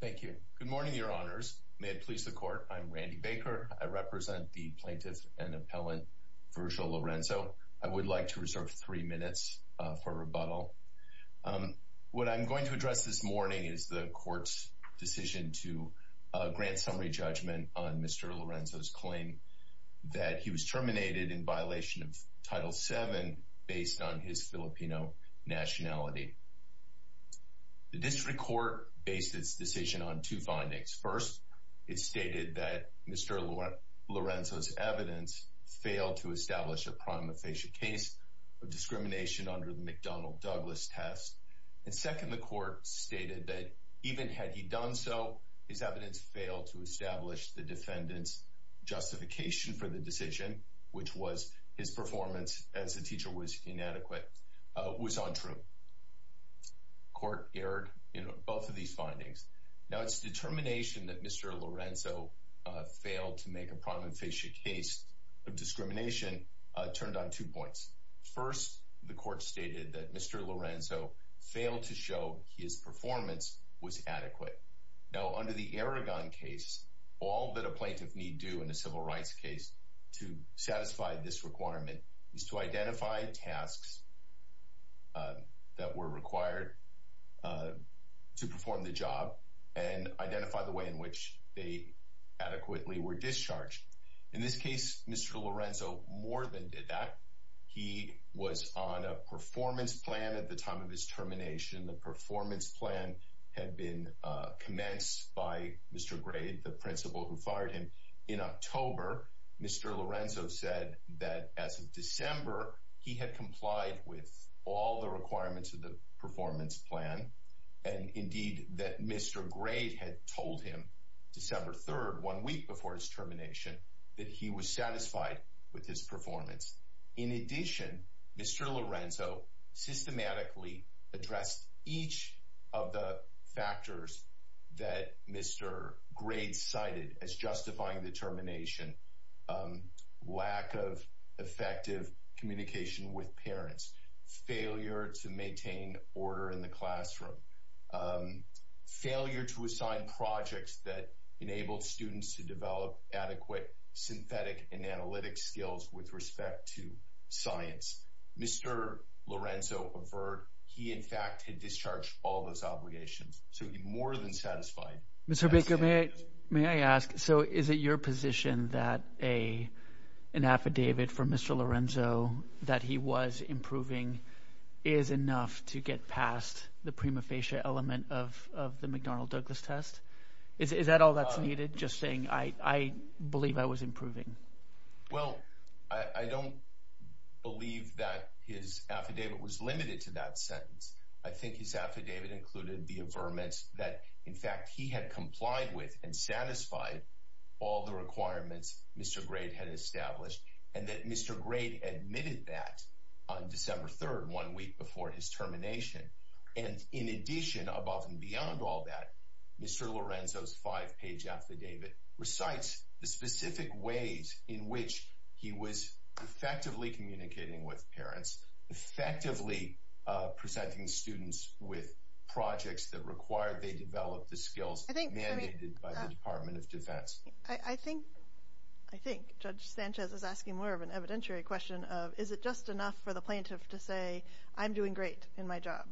Thank you. Good morning, your honors. May it please the court. I'm Randy Baker. I represent the plaintiff and appellant Virgil Lorenzo. I would like to reserve three minutes for rebuttal. What I'm going to address this morning is the court's decision to grant summary judgment on Mr. Lorenzo's claim that he was terminated in violation of Title VII based on his Filipino nationality. The district court based its decision on two findings. First, it stated that Mr. Lorenzo's evidence failed to establish a prima facie case of discrimination under the McDonnell-Douglas test. And second, the court stated that even had he done so, his evidence failed to establish the defendant's justification for the decision, which was his performance as a teacher was inadequate, was untrue. The court erred in both of these findings. Now, its determination that Mr. Lorenzo failed to make a prima facie case of discrimination turned on two points. First, the court stated that Mr. Lorenzo failed to show his performance was adequate. Now, under the Aragon case, all that a plaintiff need do in a civil rights case to satisfy this requirement is to identify tasks that were required to perform the job and identify the way in which they adequately were discharged. In this case, Mr. Lorenzo more than did that. He was on a performance plan at the time of his termination. The performance plan had been commenced by Mr. Grade, the principal who fired him. In October, Mr. Lorenzo said that as of December, he had complied with all the requirements of the performance plan and indeed that Mr. Grade had told him December 3rd, one week before his termination, that he was satisfied with his performance. In addition, Mr. Lorenzo systematically addressed each of the factors that Mr. Grade cited as justifying the termination. Lack of effective communication with parents, failure to maintain order in the classroom, failure to assign projects that enabled students to develop adequate synthetic and analytic skills with respect to their performance. Mr. Lorenzo, in fact, had discharged all those obligations, so he more than satisfied. May I ask, so is it your position that a an affidavit from Mr. Lorenzo that he was improving is enough to get past the prima facie element of the McDonnell Douglas test? Is that all that's needed? Just saying, I believe I was improving. Well, I don't believe that his affidavit was limited to that sentence. I think his affidavit included the affirmance that, in fact, he had complied with and satisfied all the requirements Mr. Grade had established and that Mr. Grade admitted that on December 3rd, one week before his termination. And in addition, above and beyond all that, Mr. Lorenzo's five-page affidavit recites the specific ways in which he was effectively communicating with parents, effectively presenting students with projects that required they develop the skills mandated by the Department of Defense. I think Judge Sanchez is asking more of an evidentiary question of, is it just enough for the plaintiff to say, I'm doing great in my job,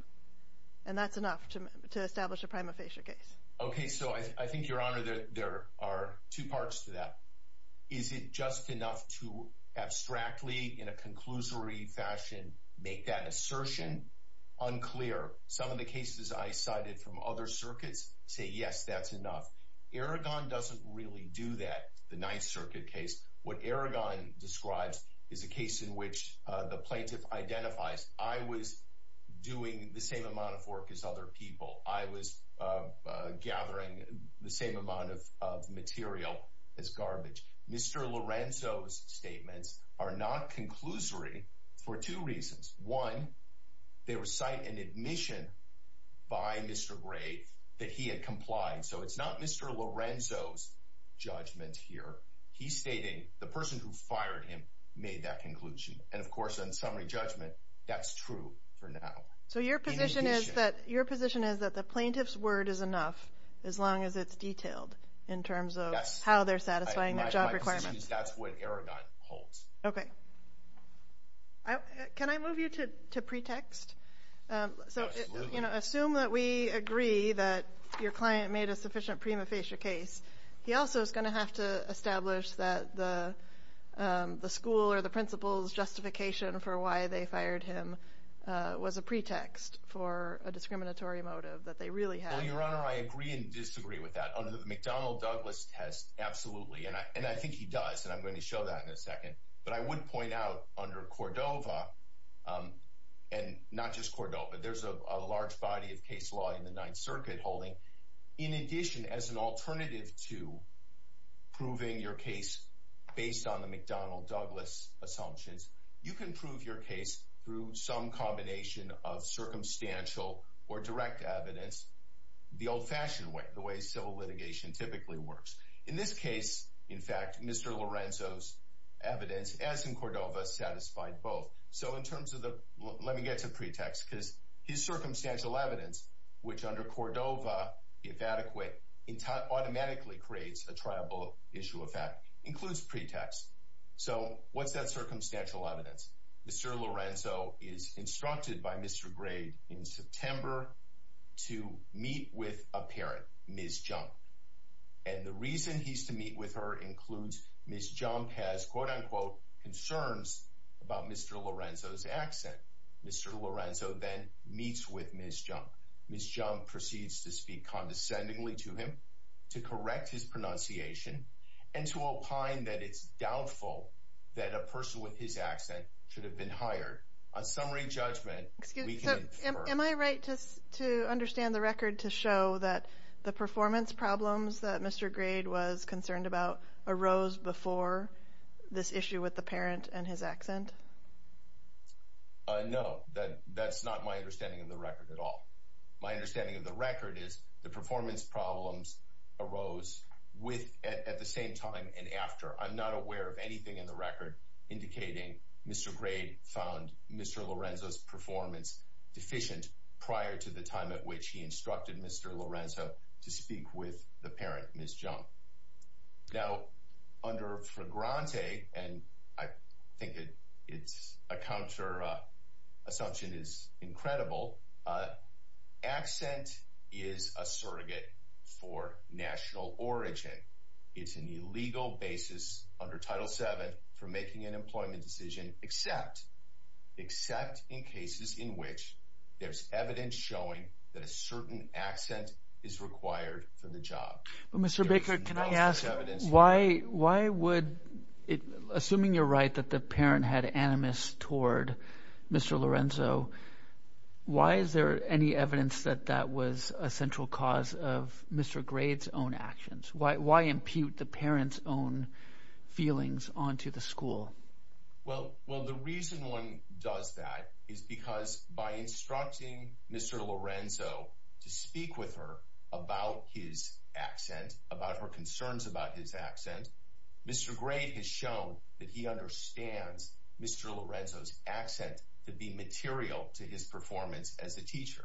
and that's enough to establish a prima facie case? Okay, so I think, Your Honor, there are two parts to that. Is it just enough to abstractly, in a conclusory fashion, make that assertion unclear? Some of the cases I cited from other circuits say, yes, that's enough. Eragon doesn't really do that, the Ninth Circuit case. What Eragon describes is a case in which the plaintiff identifies, I was doing the same amount of work as other people. I was gathering the same amount of material as garbage. Mr. Lorenzo's statements are not conclusory for two reasons. One, they recite an admission by Mr. Gray that he had complied. So it's not Mr. Lorenzo's judgment here. He's stating the person who fired him made that conclusion. And of course, in summary judgment, that's true for now. So your position is that the plaintiff's word is enough, as long as it's detailed, in terms of how they're satisfying their job requirements? That's what Eragon holds. Okay. Can I move you to pretext? So assume that we agree that your client made a sufficient prima facie case. He also is going to have to establish that the school or the principal's justification for why they fired him was a pretext for a discriminatory motive that they really had. Well, Your Honor, I agree and disagree with that. Under the McDonnell-Douglas test, absolutely. And I think he does. And I'm going to show that in a second. But I would point out under Cordova, and not just Cordova, there's a large body of case law in the Ninth Circuit holding, in addition as an alternative to proving your case based on the McDonnell-Douglas assumptions, you can prove your case through some combination of circumstantial or direct evidence. The old-fashioned way, the way civil litigation typically works. In this case, in fact, Mr. Lorenzo's evidence, as in Cordova, satisfied both. So in terms of the, let me get to pretext, because his circumstantial evidence, which under Cordova, if adequate, automatically creates a triable issue of fact, includes pretext. So what's that circumstantial evidence? Mr. Lorenzo is instructed by Mr. Gray in September to meet with a parent, Ms. Junk. And the reason he's to meet with her includes Ms. Junk has, quote-unquote, concerns about Mr. Lorenzo's accent. Mr. Lorenzo then meets with Ms. Junk. Ms. Junk proceeds to speak condescendingly to him, to correct his pronunciation, and to opine that it's doubtful that a person with his accent should have been hired. On summary judgment, we can infer. Am I right to understand the record to show that the performance problems that Mr. Gray was concerned about arose before this issue with the parent and his accent? No, that's not my understanding of the record at all. My understanding of the record is the performance problems arose at the same time and after. I'm not aware of anything in the record indicating Mr. Gray found Mr. Lorenzo's performance deficient prior to the time at which he instructed Mr. Lorenzo to speak with the parent, Ms. Junk. Now, under Fragrante, and I think it's a counter assumption is incredible, accent is a surrogate for national origin. It's an illegal basis under Title VII for making an employment decision, except in cases in which there's evidence showing that a certain accent is required for the job. Mr. Baker, can I ask, assuming you're right that the parent had animus toward Mr. Lorenzo, why is there any evidence that that was a central cause of Mr. Gray's own actions? Why impute the parent's own feelings onto the school? Well, the reason one does that is because by instructing Mr. Lorenzo to speak with her about his accent, about her concerns about his accent, Mr. Gray has shown that he understands Mr. Lorenzo's accent to be material to his performance as a teacher.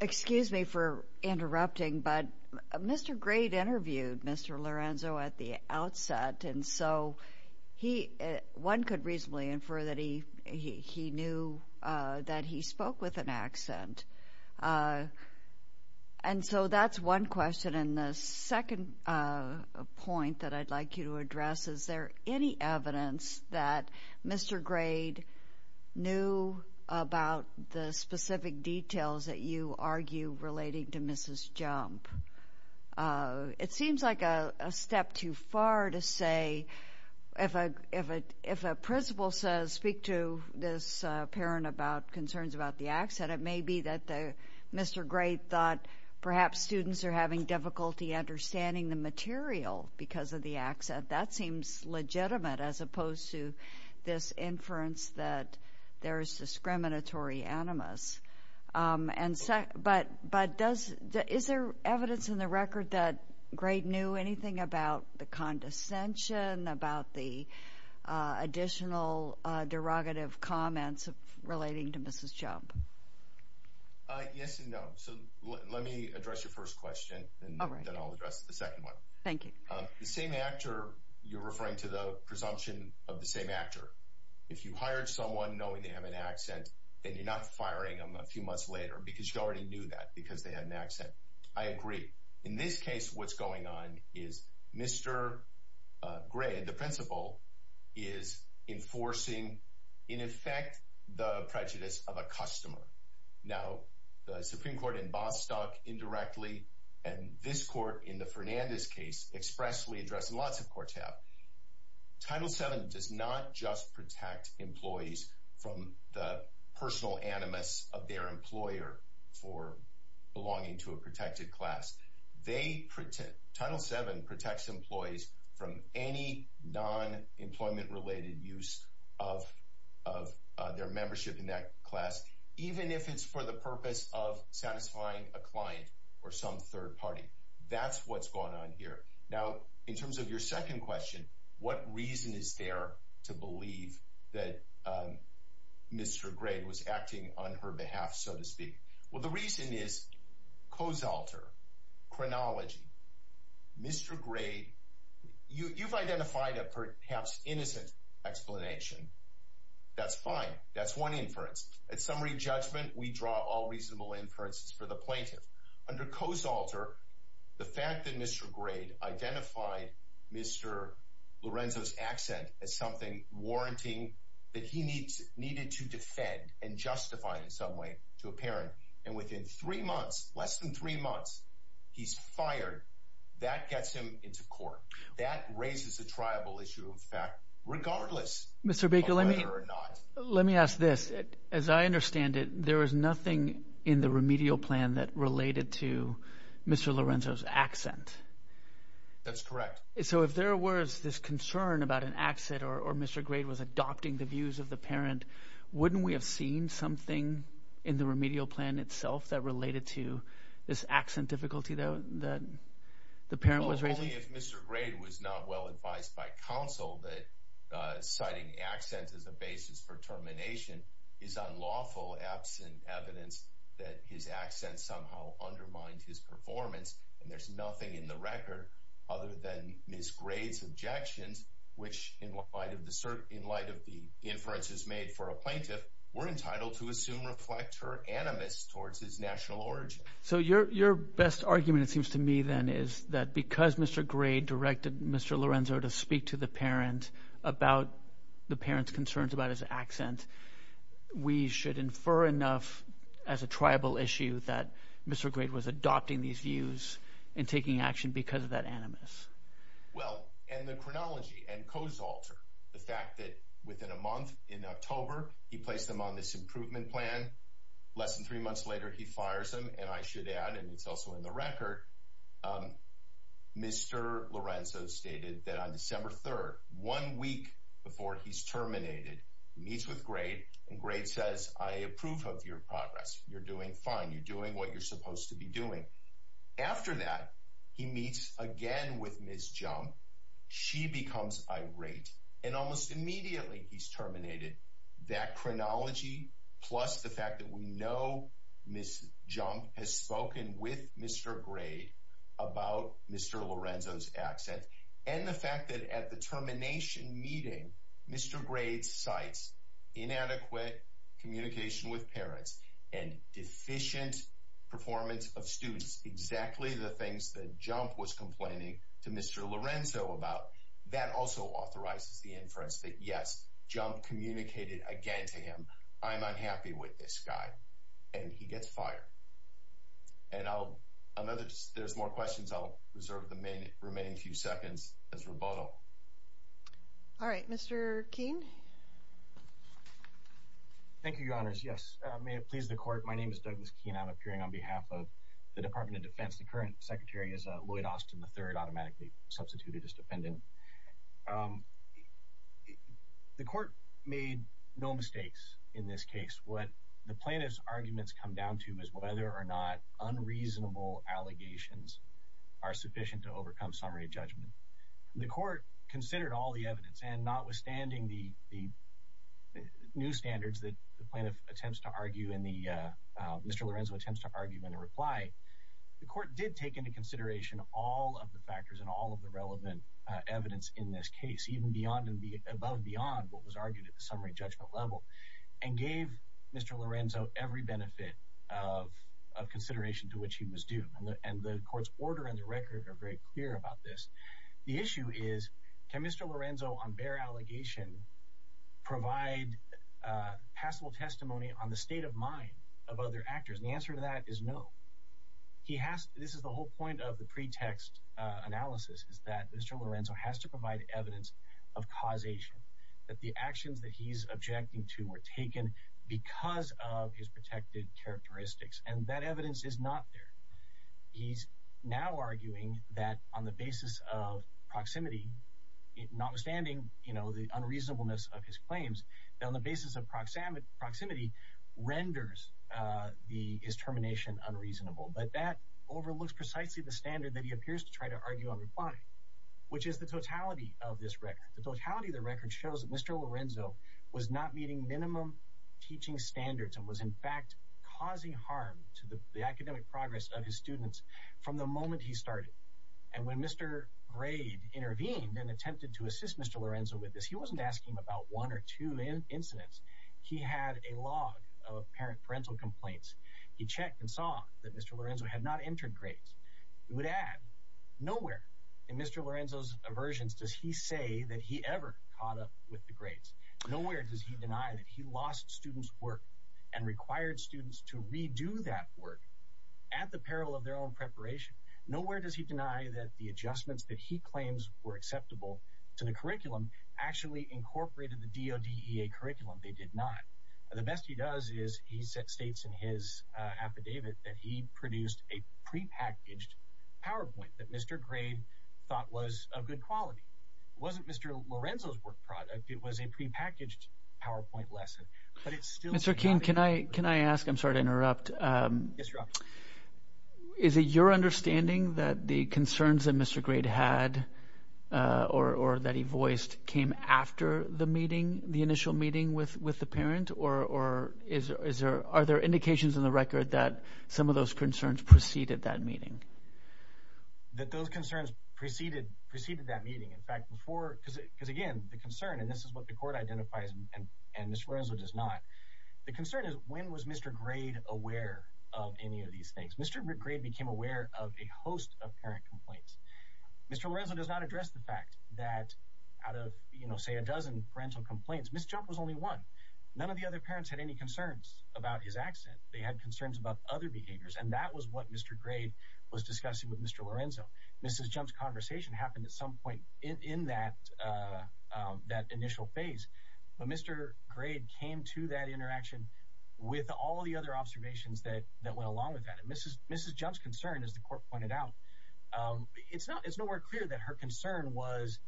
Excuse me for interrupting, but Mr. Gray interviewed Mr. Lorenzo at the outset, and so one could reasonably infer that he knew that he spoke with an accent. And so that's one question, and the second point that I'd like you to address, is there any evidence that Mr. Gray knew about the specific details that you argue relating to Mrs. Junk? It seems like a step too far to say, if a principal says speak to this parent about concerns about the accent, it may be that Mr. Gray thought perhaps students are having difficulty understanding the material because of the accent. That seems legitimate as opposed to this inference that there is discriminatory animus. But is there evidence in the record that Gray knew anything about the condescension, about the additional derogative comments relating to Mrs. Junk? Yes and no. So let me address your first question, and then I'll address the second one. Thank you. The same actor, you're referring to the presumption of the same actor. If you hired someone knowing they have an accent, then you're not firing them a few months later because you already knew that because they had an accent. I agree. In this case, what's going on is Mr. Gray, the principal, is enforcing, in effect, the prejudice of a customer. Now, the Supreme Court in Bostock indirectly, and this court in the Fernandez case expressly addressed, and lots of courts have. Title VII does not just protect employees from the personal animus of their employer for belonging to a protected class. Title VII protects employees from any non-employment related use of their membership in that class, even if it's for the purpose of satisfying a client or some third party. That's what's going on here. Now, in terms of your second question, what reason is there to believe that Mr. Gray was acting on her behalf, so to speak? Well, the reason is, co-zalter, chronology. Mr. Gray, you've identified a perhaps innocent explanation. That's fine. That's one inference. At summary judgment, we draw all reasonable inferences for the plaintiff. Under co-zalter, the fact that Mr. Gray identified Mr. Lorenzo's accent as something warranting that he needed to defend and justify in some way to a parent, and within three months, less than three months, he's fired, that gets him into court. That raises a triable issue of fact, regardless of whether or not— As I understand it, there is nothing in the remedial plan that related to Mr. Lorenzo's accent. That's correct. So if there was this concern about an accent or Mr. Gray was adopting the views of the parent, wouldn't we have seen something in the remedial plan itself that related to this accent difficulty that the parent was raising? Only if Mr. Gray was not well advised by counsel that citing accent as a basis for termination is unlawful absent evidence that his accent somehow undermined his performance, and there's nothing in the record other than Ms. Gray's objections, which in light of the inferences made for a plaintiff, we're entitled to assume reflect her animus towards his national origin. So your best argument, it seems to me, then, is that because Mr. Gray directed Mr. Lorenzo to speak to the parent about the parent's concerns about his accent, we should infer enough as a triable issue that Mr. Gray was adopting these views and taking action because of that animus. Well, and the chronology and codes alter the fact that within a month in October, he placed them on this improvement plan. Less than three months later, he fires him. And I should add, and it's also in the record, Mr. Lorenzo stated that on December 3rd, one week before he's terminated, he meets with Gray and Gray says, I approve of your progress. You're doing fine. You're doing what you're supposed to be doing. After that, he meets again with Ms. Jump. She becomes irate, and almost immediately he's terminated. That chronology plus the fact that we know Ms. Jump has spoken with Mr. Gray about Mr. Lorenzo's accent and the fact that at the termination meeting, Mr. Gray cites inadequate communication with parents and deficient performance of students. That's exactly the things that Jump was complaining to Mr. Lorenzo about. That also authorizes the inference that yes, Jump communicated again to him. I'm unhappy with this guy. And he gets fired. And there's more questions. I'll reserve the remaining few seconds as rebuttal. All right, Mr. Keene. Thank you, Your Honors. Yes, may it please the court, my name is Douglas Keene. I'm appearing on behalf of the Department of Defense. The current secretary is Lloyd Austin III, automatically substituted as defendant. The court made no mistakes in this case. What the plaintiff's arguments come down to is whether or not unreasonable allegations are sufficient to overcome summary judgment. The court considered all the evidence, and notwithstanding the new standards that the plaintiff attempts to argue and Mr. Lorenzo attempts to argue in a reply, the court did take into consideration all of the factors and all of the relevant evidence in this case, even above and beyond what was argued at the summary judgment level, and gave Mr. Lorenzo every benefit of consideration to which he was due. And the court's order and the record are very clear about this. The issue is, can Mr. Lorenzo on bare allegation provide passable testimony on the state of mind of other actors? And the answer to that is no. This is the whole point of the pretext analysis, is that Mr. Lorenzo has to provide evidence of causation, that the actions that he's objecting to were taken because of his protected characteristics, and that evidence is not there. He's now arguing that on the basis of proximity, notwithstanding the unreasonableness of his claims, that on the basis of proximity renders his termination unreasonable. But that overlooks precisely the standard that he appears to try to argue and reply, which is the totality of this record. The totality of the record shows that Mr. Lorenzo was not meeting minimum teaching standards and was in fact causing harm to the academic progress of his students from the moment he started. And when Mr. Grade intervened and attempted to assist Mr. Lorenzo with this, he wasn't asking about one or two incidents. He had a log of parental complaints. He checked and saw that Mr. Lorenzo had not entered grades. He would add, nowhere in Mr. Lorenzo's aversions does he say that he ever caught up with the grades. Nowhere does he deny that he lost students' work and required students to redo that work at the peril of their own preparation. Nowhere does he deny that the adjustments that he claims were acceptable to the curriculum actually incorporated the DODEA curriculum. They did not. The best he does is he states in his affidavit that he produced a prepackaged PowerPoint that Mr. Grade thought was of good quality. It wasn't Mr. Lorenzo's work product. It was a prepackaged PowerPoint lesson. Mr. King, can I ask, I'm sorry to interrupt, is it your understanding that the concerns that Mr. Grade had or that he voiced came after the meeting, the initial meeting with the parent? Or are there indications in the record that some of those concerns preceded that meeting? That those concerns preceded that meeting. In fact, before, because again, the concern, and this is what the court identifies and Mr. Lorenzo does not, the concern is when was Mr. Grade aware of any of these things? Mr. Grade became aware of a host of parent complaints. Mr. Lorenzo does not address the fact that out of, you know, say a dozen parental complaints, Ms. Jump was only one. None of the other parents had any concerns about his accent. They had concerns about other behaviors and that was what Mr. Grade was discussing with Mr. Lorenzo. Mrs. Jump's conversation happened at some point in that initial phase. But Mr. Grade came to that interaction with all the other observations that went along with that. And Mrs. Jump's concern, as the court pointed out, it's nowhere clear that her concern was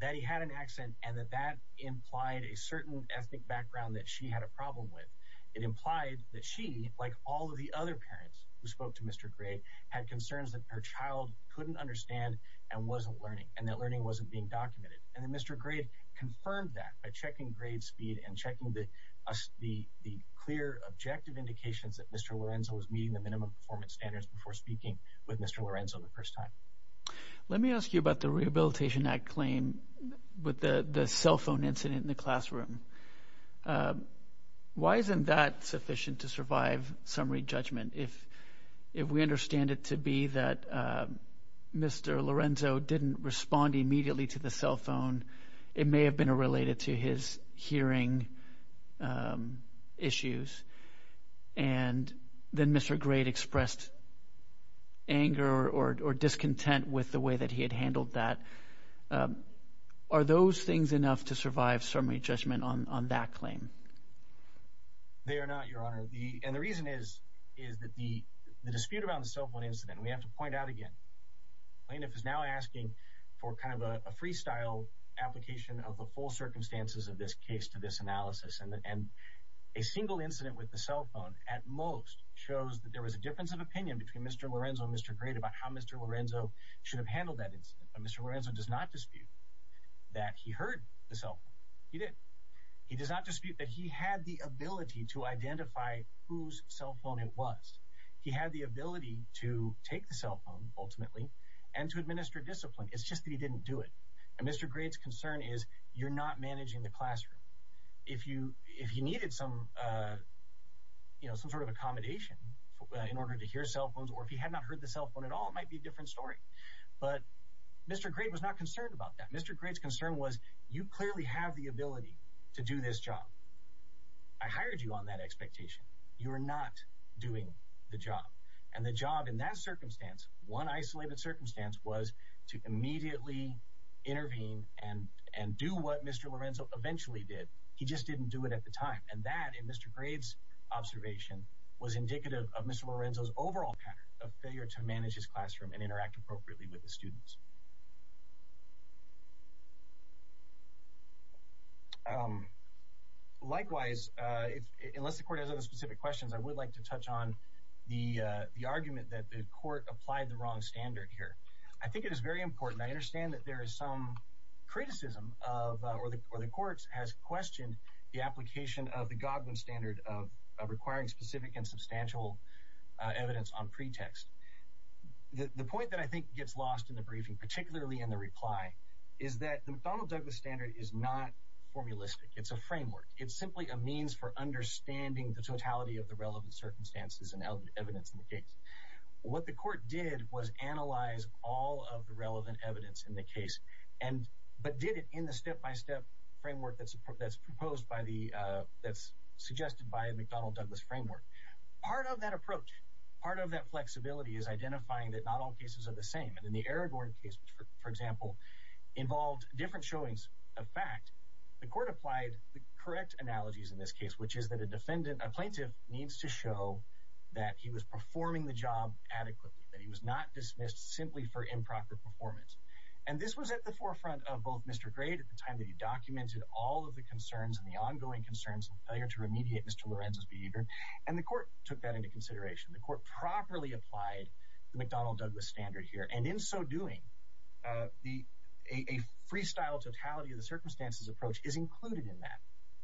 that he had an accent and that that implied a certain ethnic background that she had a problem with. It implied that she, like all of the other parents who spoke to Mr. Grade, had concerns that her child couldn't understand and wasn't learning and that learning wasn't being documented. And Mr. Grade confirmed that by checking grade speed and checking the clear objective indications that Mr. Lorenzo was meeting the minimum performance standards before speaking with Mr. Lorenzo the first time. Let me ask you about the Rehabilitation Act claim with the cell phone incident in the classroom. Why isn't that sufficient to survive summary judgment if we understand it to be that Mr. Lorenzo didn't respond immediately to the cell phone? It may have been related to his hearing issues. And then Mr. Grade expressed anger or discontent with the way that he had handled that. Are those things enough to survive summary judgment on that claim? They are not, Your Honor. And the reason is that the dispute around the cell phone incident, we have to point out again, plaintiff is now asking for kind of a freestyle application of the full circumstances of this case to this analysis. And a single incident with the cell phone at most shows that there was a difference of opinion between Mr. Lorenzo and Mr. Grade about how Mr. Lorenzo should have handled that incident. Mr. Lorenzo does not dispute that he heard the cell phone. He did. He does not dispute that he had the ability to identify whose cell phone it was. He had the ability to take the cell phone, ultimately, and to administer discipline. It's just that he didn't do it. And Mr. Grade's concern is you're not managing the classroom. If you needed some sort of accommodation in order to hear cell phones or if you had not heard the cell phone at all, it might be a different story. But Mr. Grade was not concerned about that. Mr. Grade's concern was you clearly have the ability to do this job. I hired you on that expectation. You are not doing the job. And the job in that circumstance, one isolated circumstance, was to immediately intervene and do what Mr. Lorenzo eventually did. He just didn't do it at the time. And that, in Mr. Grade's observation, was indicative of Mr. Lorenzo's overall pattern of failure to manage his classroom and interact appropriately with the students. Likewise, unless the court has other specific questions, I would like to touch on the argument that the court applied the wrong standard here. I think it is very important. I understand that there is some criticism or the court has questioned the application of the Godwin standard of requiring specific and substantial evidence on pretext. The point that I think gets lost in the briefing, particularly in the reply, is that the McDonnell-Douglas standard is not formulistic. It's a framework. It's simply a means for understanding the totality of the relevant circumstances and evidence in the case. What the court did was analyze all of the relevant evidence in the case, but did it in the step-by-step framework that's proposed by the – that's suggested by the McDonnell-Douglas framework. Part of that approach, part of that flexibility, is identifying that not all cases are the same. And in the Aragorn case, for example, involved different showings of fact. The court applied the correct analogies in this case, which is that a defendant – a plaintiff needs to show that he was performing the job adequately, that he was not dismissed simply for improper performance. And this was at the forefront of both Mr. Gray at the time that he documented all of the concerns and the ongoing concerns of failure to remediate Mr. Lorenzo's behavior. And the court took that into consideration. The court properly applied the McDonnell-Douglas standard here. And in so doing, a freestyle totality-of-the-circumstances approach is included in that.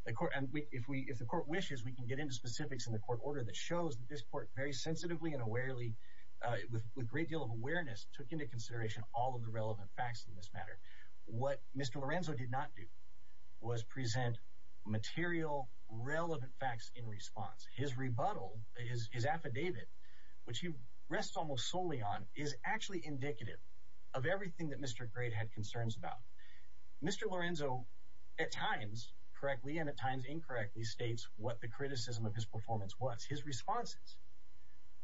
And if the court wishes, we can get into specifics in the court order that shows that this court very sensitively and awarely, with a great deal of awareness, took into consideration all of the relevant facts in this matter. But what Mr. Lorenzo did not do was present material, relevant facts in response. His rebuttal, his affidavit, which he rests almost solely on, is actually indicative of everything that Mr. Gray had concerns about. Mr. Lorenzo, at times correctly and at times incorrectly, states what the criticism of his performance was. His responses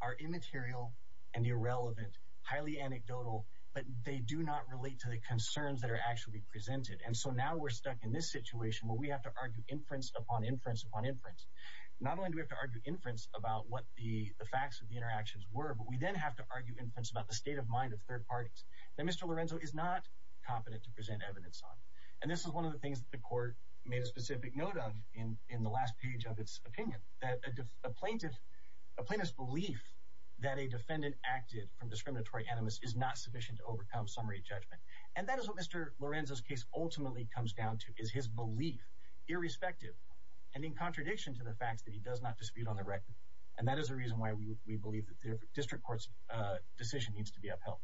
are immaterial and irrelevant, highly anecdotal, but they do not relate to the concerns that are actually presented. And so now we're stuck in this situation where we have to argue inference upon inference upon inference. Not only do we have to argue inference about what the facts of the interactions were, but we then have to argue inference about the state of mind of third parties. That Mr. Lorenzo is not competent to present evidence on. And this is one of the things that the court made a specific note of in the last page of its opinion. That a plaintiff's belief that a defendant acted from discriminatory animus is not sufficient to overcome summary judgment. And that is what Mr. Lorenzo's case ultimately comes down to, is his belief, irrespective and in contradiction to the facts, that he does not dispute on the record. And that is the reason why we believe that the district court's decision needs to be upheld.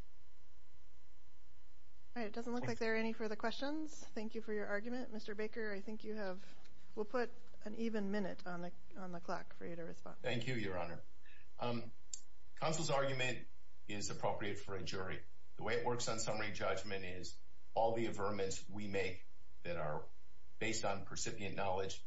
All right, it doesn't look like there are any further questions. Thank you for your argument. Mr. Baker, I think you have, we'll put an even minute on the clock for you to respond. Thank you, Your Honor. Counsel's argument is appropriate for a jury. The way it works on summary judgment is all the averments we make that are based on percipient knowledge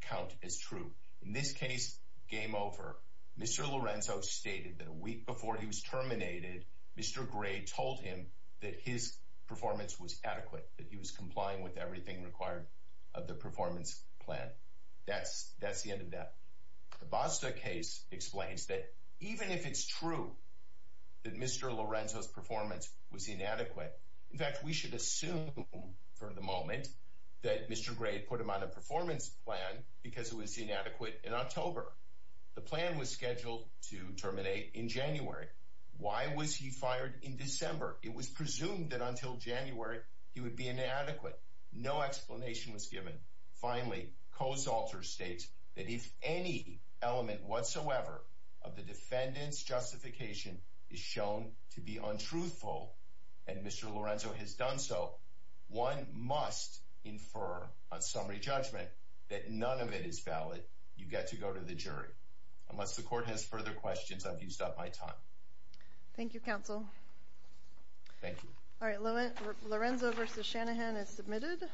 count as true. In this case, game over, Mr. Lorenzo stated that a week before he was terminated, Mr. Gray told him that his performance was adequate. That he was complying with everything required of the performance plan. That's the end of that. The Basta case explains that even if it's true that Mr. Lorenzo's performance was inadequate, in fact, we should assume for the moment that Mr. Gray put him on a performance plan because it was inadequate in October. The plan was scheduled to terminate in January. Why was he fired in December? It was presumed that until January, he would be inadequate. No explanation was given. Finally, Kosalter states that if any element whatsoever of the defendant's justification is shown to be untruthful, and Mr. Lorenzo has done so, one must infer on summary judgment that none of it is valid. You get to go to the jury. Unless the court has further questions, I've used up my time. Thank you, Counsel. Thank you. All right, Lorenzo v. Shanahan is submitted.